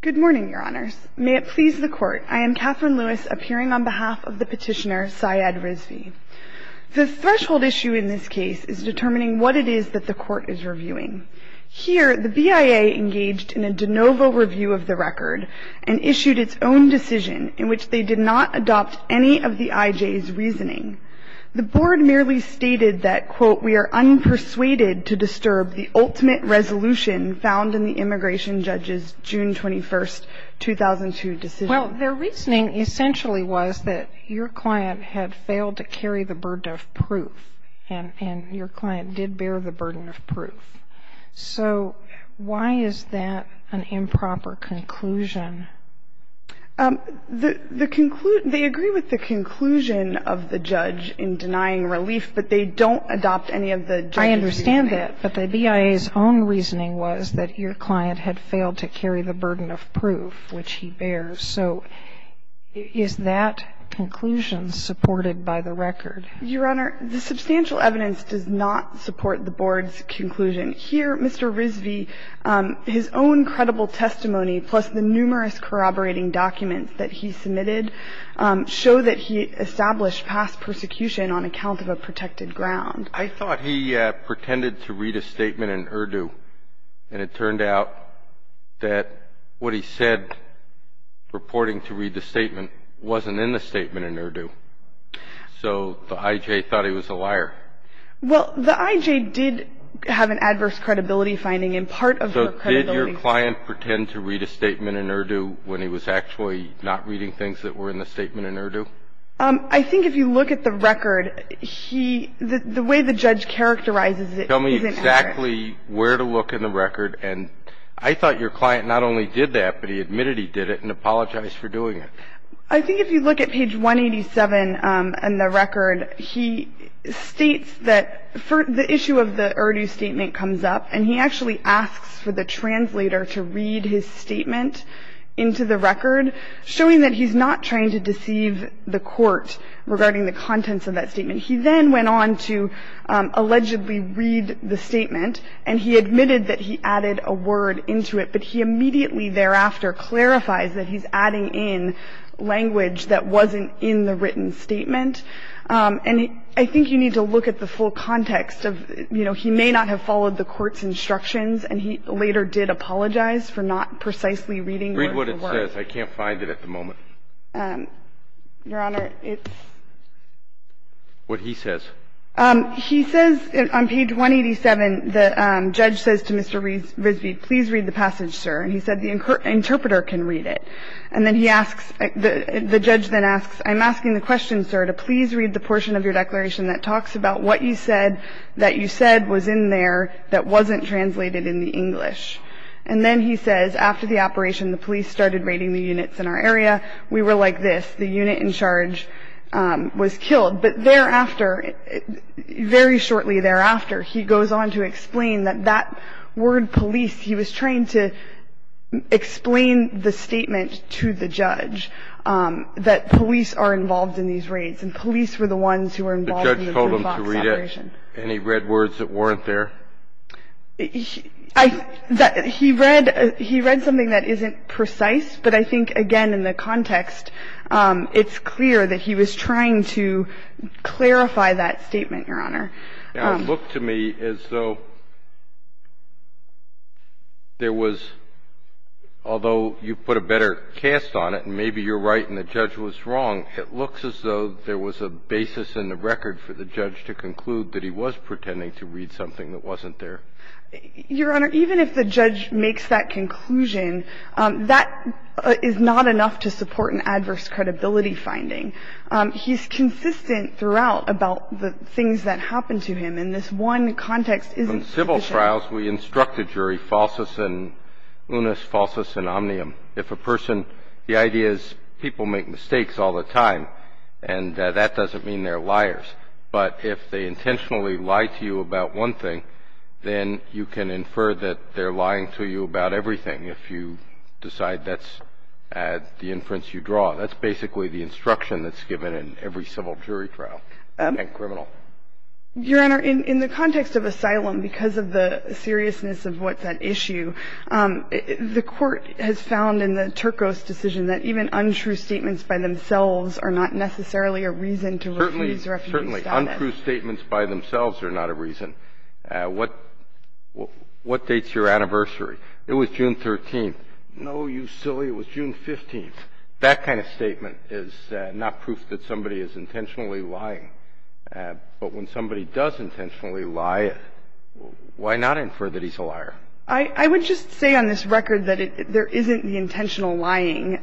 Good morning, Your Honors. May it please the Court, I am Kathryn Lewis, appearing on behalf of the petitioner, Syed Rizvi. The threshold issue in this case is determining what it is that the Court is reviewing. Here, the BIA engaged in a de novo review of the record and issued its own decision in which they did not adopt any of the IJ's reasoning. The Board merely stated that, quote, we are unpersuaded to disturb the ultimate resolution found in the immigration judge's June 21, 2002 decision. Well, their reasoning essentially was that your client had failed to carry the burden of proof, and your client did bear the burden of proof. So why is that an improper conclusion? They agree with the conclusion of the judge in denying relief, but they don't adopt any of the judge's reasoning. I understand that, but the BIA's own reasoning was that your client had failed to carry the burden of proof, which he bears. So is that conclusion supported by the record? Your Honor, the substantial evidence does not support the Board's conclusion. Here, Mr. Rizvi, his own credible testimony, plus the numerous corroborating documents that he submitted, show that he established past persecution on account of a protected ground. I thought he pretended to read a statement in Urdu, and it turned out that what he said, purporting to read the statement, wasn't in the statement in Urdu. Well, the IJ did have an adverse credibility finding, and part of her credibility finding was in the statement in Urdu. So did your client pretend to read a statement in Urdu when he was actually not reading things that were in the statement in Urdu? I think if you look at the record, he – the way the judge characterizes it isn't accurate. Tell me exactly where to look in the record. And I thought your client not only did that, but he admitted he did it and apologized for doing it. I think if you look at page 187 in the record, he states that the issue of the Urdu statement comes up, and he actually asks for the translator to read his statement into the record, showing that he's not trying to deceive the court regarding the contents of that statement. He then went on to allegedly read the statement, and he admitted that he added a word into it, but he immediately thereafter clarifies that he's adding in language that wasn't in the written statement. And I think you need to look at the full context of, you know, he may not have followed the court's instructions, and he later did apologize for not precisely reading the word. Read what it says. I can't find it at the moment. Your Honor, it's – What he says. He says on page 187, the judge says to Mr. Risby, please read the passage, sir. And he said the interpreter can read it. And then he asks – the judge then asks, I'm asking the question, sir, to please read the portion of your declaration that talks about what you said that you said was in there that wasn't translated in the English. And then he says, after the operation, the police started raiding the units in our area. We were like this. The unit in charge was killed. But thereafter, very shortly thereafter, he goes on to explain that that word police, he was trying to explain the statement to the judge that police are involved in these raids and police were the ones who were involved in the boot box operation. The judge told him to read it, and he read words that weren't there? He read something that isn't precise, but I think, again, in the context, it's clear that he was trying to clarify that statement, Your Honor. Now, it looked to me as though there was, although you put a better cast on it and maybe you're right and the judge was wrong, it looks as though there was a basis in the record for the judge to conclude that he was pretending to read something that wasn't there. Your Honor, even if the judge makes that conclusion, that is not enough to support an adverse credibility finding. He's consistent throughout about the things that happened to him, and this one context isn't sufficient. In civil trials, we instruct the jury falsus in unis, falsus in omnium. If a person, the idea is people make mistakes all the time, and that doesn't mean they're liars. But if they intentionally lie to you about one thing, then you can infer that they're lying to you about everything. If you decide that's the inference you draw, that's basically the instruction that's given in every civil jury trial and criminal. Your Honor, in the context of asylum, because of the seriousness of what's at issue, the Court has found in the Turco's decision that even untrue statements by themselves are not necessarily a reason to refuse refugee status. Certainly. Untrue statements by themselves are not a reason. What dates your anniversary? It was June 13th. No, you silly. It was June 15th. That kind of statement is not proof that somebody is intentionally lying. But when somebody does intentionally lie, why not infer that he's a liar? I would just say on this record that there isn't the intentional lying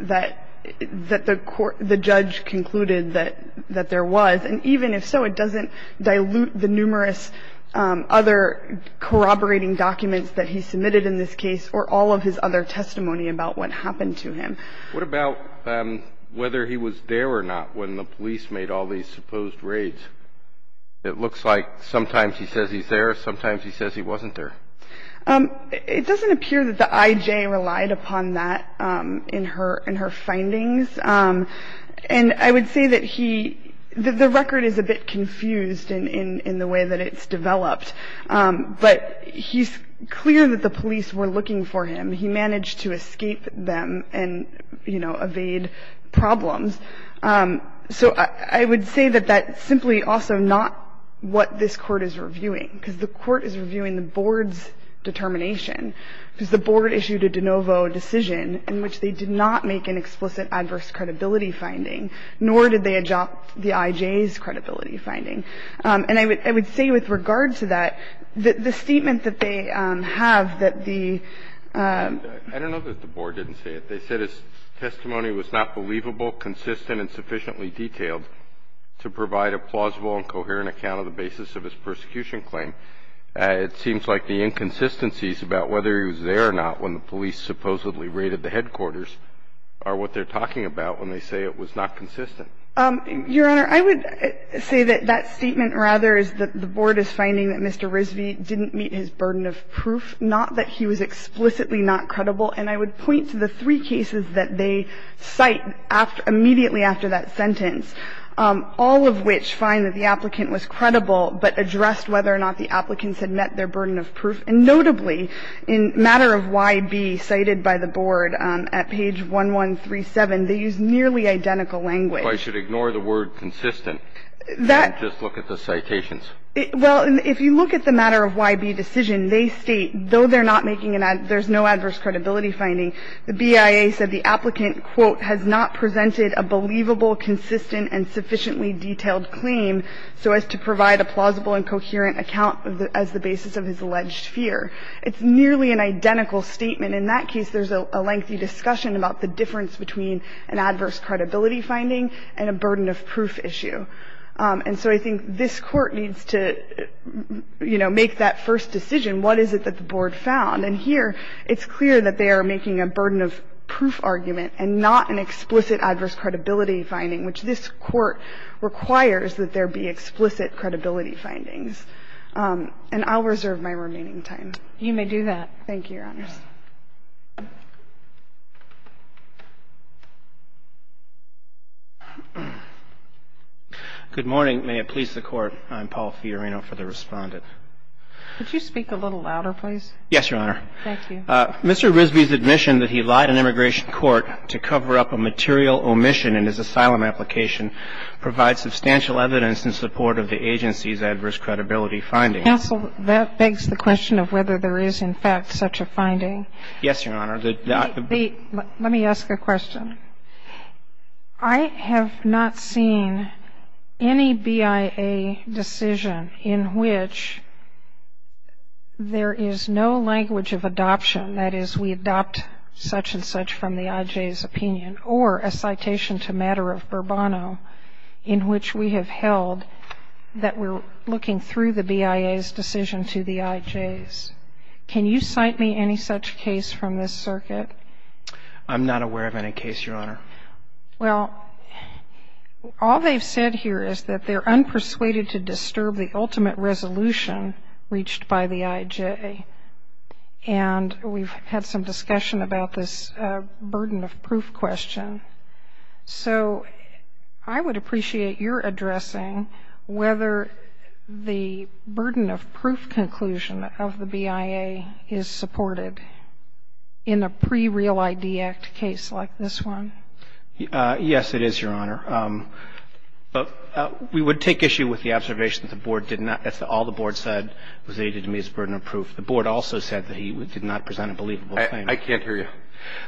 that the judge concluded that there was. And even if so, it doesn't dilute the numerous other corroborating documents that he submitted in this case or all of his other testimony about what happened to him. What about whether he was there or not when the police made all these supposed raids? It looks like sometimes he says he's there. Sometimes he says he wasn't there. It doesn't appear that the IJ relied upon that in her findings. And I would say that he the record is a bit confused in the way that it's developed. But he's clear that the police were looking for him. He managed to escape them and, you know, evade problems. So I would say that that's simply also not what this Court is reviewing, because the Court is reviewing the board's determination. Because the board issued a de novo decision in which they did not make an explicit adverse credibility finding, nor did they adopt the IJ's credibility finding. And I would say with regard to that, the statement that they have that the ---- I don't know that the board didn't say it. They said his testimony was not believable, consistent, and sufficiently detailed to provide a plausible and coherent account of the basis of his persecution claim. It seems like the inconsistencies about whether he was there or not when the police supposedly raided the headquarters are what they're talking about when they say it was not consistent. Your Honor, I would say that that statement, rather, is that the board is finding that Mr. Rizvi didn't meet his burden of proof, not that he was explicitly not credible. And I would point to the three cases that they cite immediately after that sentence, all of which find that the applicant was credible but addressed whether or not the applicants had met their burden of proof. And notably, in matter of YB cited by the board at page 1137, they use nearly identical language. If I should ignore the word consistent and just look at the citations? Well, if you look at the matter of YB decision, they state, though they're not making an adverse ---- there's no adverse credibility finding, the BIA said the applicant, quote, has not presented a believable, consistent, and sufficiently detailed claim so as to provide a plausible and coherent account as the basis of his alleged fear. It's nearly an identical statement. In that case, there's a lengthy discussion about the difference between an adverse credibility finding and a burden of proof issue. And so I think this Court needs to, you know, make that first decision. What is it that the board found? And here, it's clear that they are making a burden of proof argument and not an explicit adverse credibility finding, which this Court requires that there be explicit credibility findings. And I'll reserve my remaining time. You may do that. Thank you, Your Honors. Good morning. May it please the Court. I'm Paul Fiorino for the Respondent. Could you speak a little louder, please? Yes, Your Honor. Thank you. Mr. Risby's admission that he lied in immigration court to cover up a material omission in his asylum application provides substantial evidence in support of the agency's adverse credibility finding. Counsel, that begs the question of whether there is, in fact, such a finding. Yes, Your Honor. Let me ask a question. I have not seen any BIA decision in which there is no language of adoption, that is, we adopt such and such from the IJ's opinion, or a citation to matter of Burbano in which we have held that we're looking through the BIA's decision to the IJ's. Can you cite me any such case from this circuit? I'm not aware of any case, Your Honor. Well, all they've said here is that they're unpersuaded to disturb the ultimate resolution reached by the IJ. And we've had some discussion about this burden of proof question. So I would appreciate your addressing whether the burden of proof conclusion of the BIA is supported in a case like this one. Yes, it is, Your Honor. We would take issue with the observation that the Board did not – that all the Board said was aided to meet its burden of proof. The Board also said that he did not present a believable claim. I can't hear you.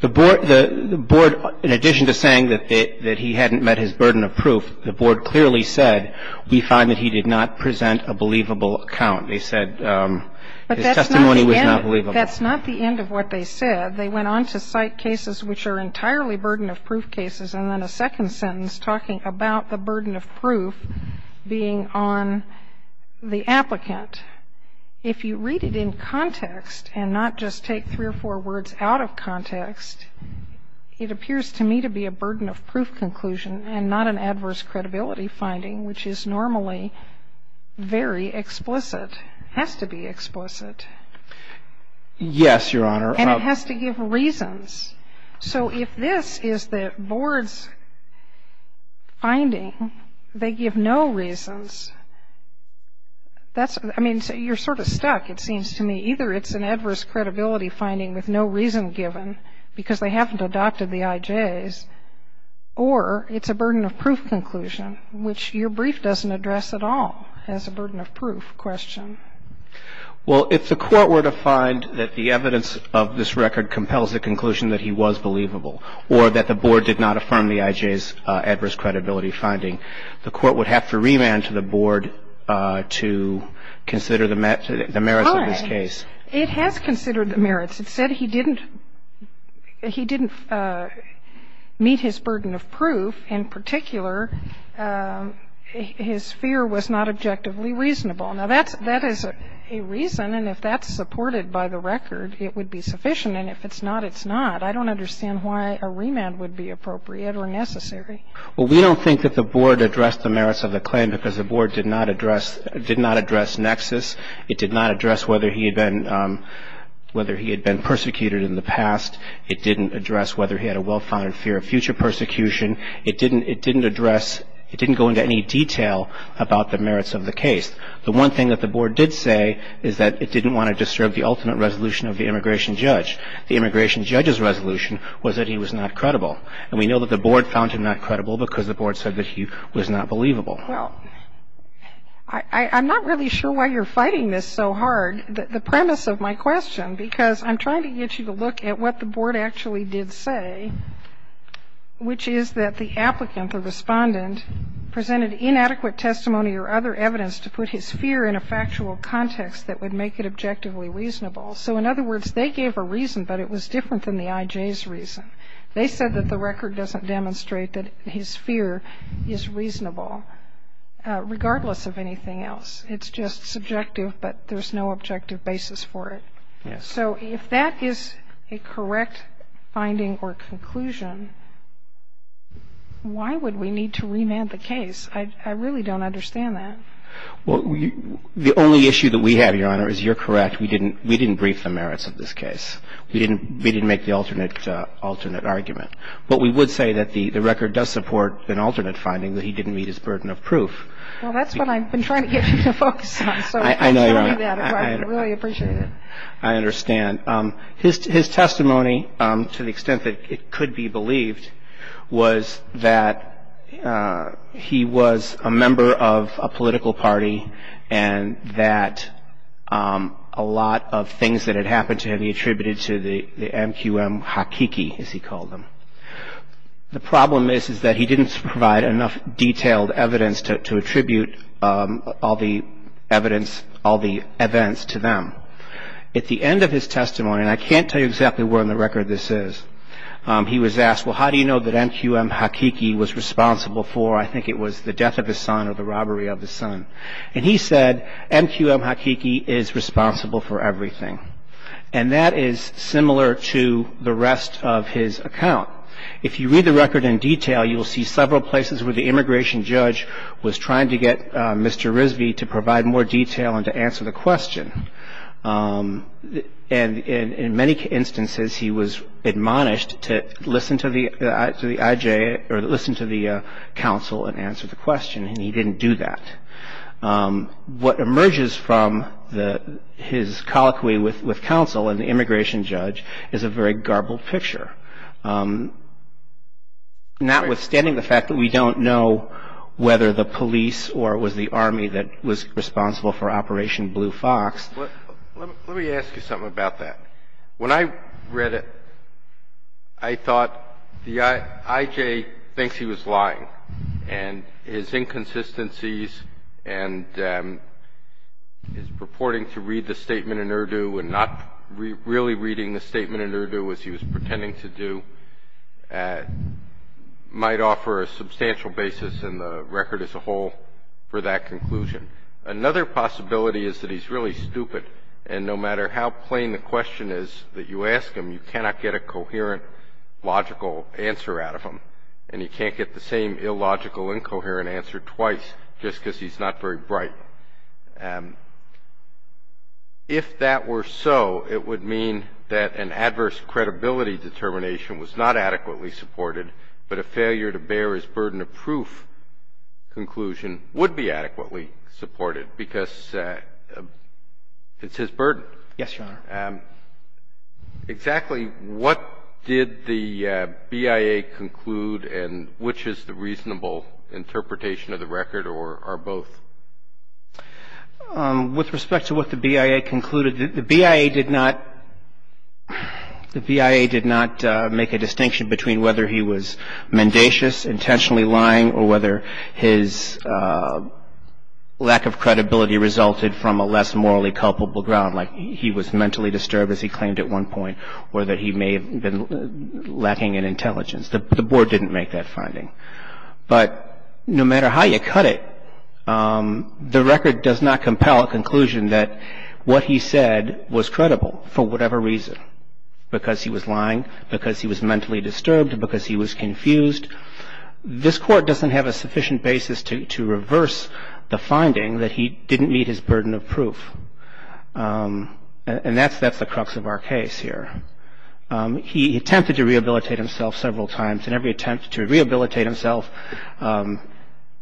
The Board, in addition to saying that he hadn't met his burden of proof, the Board clearly said, we find that he did not present a believable account. They said his testimony was not believable. But that's not the end of what they said. They went on to cite cases which are entirely burden of proof cases, and then a second sentence talking about the burden of proof being on the applicant. If you read it in context and not just take three or four words out of context, it appears to me to be a burden of proof conclusion and not an adverse credibility finding, which is normally very explicit, has to be explicit. Yes, Your Honor. And it has to give reasons. So if this is the Board's finding, they give no reasons, that's – I mean, you're sort of stuck, it seems to me. Either it's an adverse credibility finding with no reason given because they haven't adopted the IJs, or it's a burden of proof conclusion, which your brief doesn't address at all as a burden of proof question. Well, if the Court were to find that the evidence of this record compels the conclusion that he was believable or that the Board did not affirm the IJs' adverse credibility finding, the Court would have to remand to the Board to consider the merits of this case. It has considered the merits. It said he didn't meet his burden of proof. In particular, his fear was not objectively reasonable. Now, that is a reason, and if that's supported by the record, it would be sufficient. And if it's not, it's not. I don't understand why a remand would be appropriate or necessary. Well, we don't think that the Board addressed the merits of the claim because the Board did not address nexus. It did not address whether he had been persecuted in the past. It didn't address whether he had a well-founded fear of future persecution. It didn't address – it didn't go into any detail about the merits of the case. The one thing that the Board did say is that it didn't want to disturb the ultimate resolution of the immigration judge. The immigration judge's resolution was that he was not credible. And we know that the Board found him not credible because the Board said that he was not believable. Well, I'm not really sure why you're fighting this so hard. The premise of my question, because I'm trying to get you to look at what the Board actually did say, which is that the applicant, the respondent, presented inadequate testimony or other evidence to put his fear in a factual context that would make it objectively reasonable. So in other words, they gave a reason, but it was different than the IJ's reason. They said that the record doesn't demonstrate that his fear is reasonable, regardless of anything else. It's just subjective, but there's no objective basis for it. Yes. So if that is a correct finding or conclusion, why would we need to remand the case? I really don't understand that. Well, the only issue that we have, Your Honor, is you're correct. We didn't brief the merits of this case. We didn't make the alternate argument. But we would say that the record does support an alternate finding, that he didn't meet his burden of proof. Well, that's what I've been trying to get you to focus on. I know, Your Honor. I understand. His testimony, to the extent that it could be believed, was that he was a member of a political party and that a lot of things that had happened to him he attributed to the MQM hakiki, as he called them. The problem is, is that he didn't provide enough detailed evidence to attribute all the evidence, all the events to them. At the end of his testimony, and I can't tell you exactly where in the record this is, he was asked, well, how do you know that MQM hakiki was responsible for, I think it was the death of his son or the robbery of his son. And he said, MQM hakiki is responsible for everything. And that is similar to the rest of his account. If you read the record in detail, you'll see several places where the immigration judge was trying to get Mr. Risby to provide more detail and to answer the question. And in many instances, he was admonished to listen to the IJ or listen to the counsel and answer the question. And he didn't do that. What emerges from his colloquy with counsel and the immigration judge is a very garbled picture. Notwithstanding the fact that we don't know whether the police or it was the Army that was responsible for Operation Blue Fox. Let me ask you something about that. When I read it, I thought the IJ thinks he was lying. And his inconsistencies and his purporting to read the statement in Urdu and not really reading the statement in Urdu, as he was pretending to do, might offer a substantial basis in the record as a whole for that conclusion. Another possibility is that he's really stupid. And no matter how plain the question is that you ask him, you cannot get a coherent, logical answer out of him. And he can't get the same illogical, incoherent answer twice just because he's not very bright. If that were so, it would mean that an adverse credibility determination was not adequately supported, but a failure to bear his burden of proof conclusion would be adequately supported because it's his burden. Yes, Your Honor. Exactly what did the BIA conclude and which is the reasonable interpretation of the record or both? With respect to what the BIA concluded, the BIA did not make a distinction between whether he was mendacious, intentionally lying, or whether his lack of credibility resulted from a less morally culpable ground, like he was mentally disturbed, as he claimed at one point, or that he may have been lacking in intelligence. But no matter how you cut it, the record does not compel a conclusion that what he said was credible for whatever reason, because he was lying, because he was mentally disturbed, because he was confused. This Court doesn't have a sufficient basis to reverse the finding that he didn't meet his burden of proof. And that's the crux of our case here. He attempted to rehabilitate himself several times, and every attempt to rehabilitate himself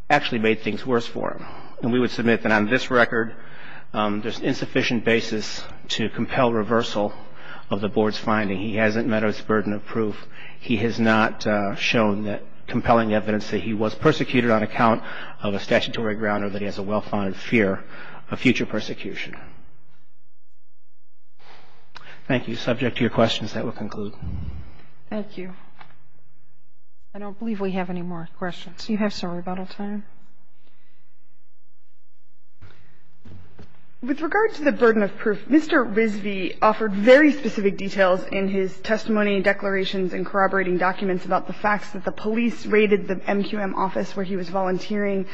actually made things worse for him. And we would submit that on this record, there's insufficient basis to compel reversal of the Board's finding. He hasn't met his burden of proof. He has not shown compelling evidence that he was persecuted on account of a statutory ground or that he has a well-founded fear of future persecution. Thank you. Subject to your questions, that will conclude. Thank you. I don't believe we have any more questions. You have some rebuttal time. With regard to the burden of proof, Mr. Risby offered very specific details in his testimony, declarations, and corroborating documents about the facts that the police raided the MQM office where he was volunteering.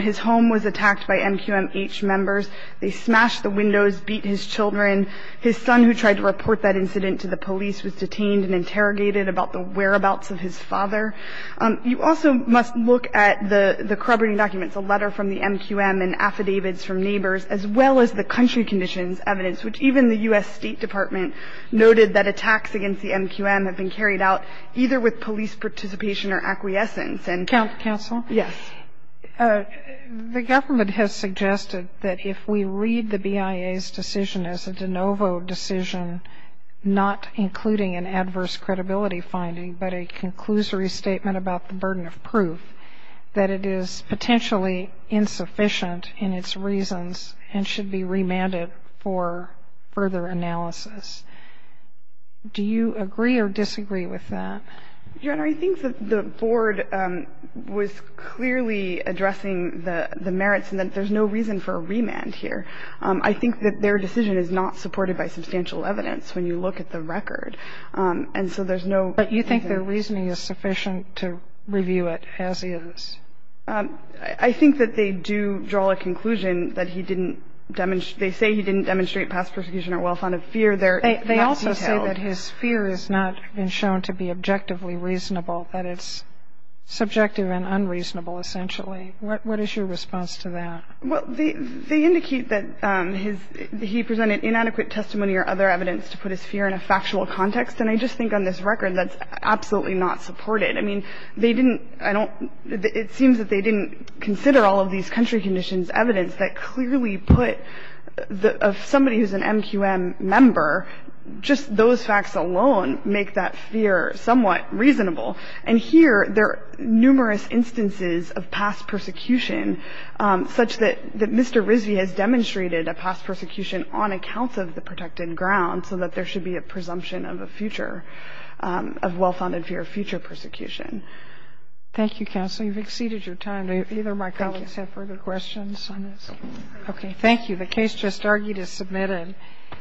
His home was attacked by MQMH members. They smashed the windows, beat his children. His son, who tried to report that incident to the police, was detained and interrogated about the whereabouts of his father. You also must look at the corroborating documents, a letter from the MQM and affidavits from neighbors, as well as the country conditions evidence, which even the U.S. State Department noted that attacks against the MQM have been carried out either with police participation or acquiescence. Counsel? Yes. The government has suggested that if we read the BIA's decision as a de novo decision, not including an adverse credibility finding, but a conclusory statement about the burden of proof, that it is potentially insufficient in its reasons and should be remanded for further analysis. Do you agree or disagree with that? Your Honor, I think that the Board was clearly addressing the merits and that there's no reason for a remand here. I think that their decision is not supported by substantial evidence when you look at the record. And so there's no reason. But you think their reasoning is sufficient to review it as is? I think that they do draw a conclusion that he didn't demonstrate – they say he didn't demonstrate past persecution or well-founded fear. They also say that his fear has not been shown to be objectively reasonable, that it's subjective and unreasonable, essentially. What is your response to that? Well, they indicate that he presented inadequate testimony or other evidence to put his fear in a factual context. And I just think on this record that's absolutely not supported. I mean, they didn't – I don't – it seems that they didn't consider all of these country conditions evidence that clearly put – of somebody who's an MQM member, just those facts alone make that fear somewhat reasonable. And here there are numerous instances of past persecution such that Mr. Risby has demonstrated a past persecution on account of the protected ground so that there should be a presumption of a future – of well-founded fear of future persecution. Thank you, counsel. You've exceeded your time. Do either of my colleagues have further questions on this? Okay, thank you. The case just argued is submitted.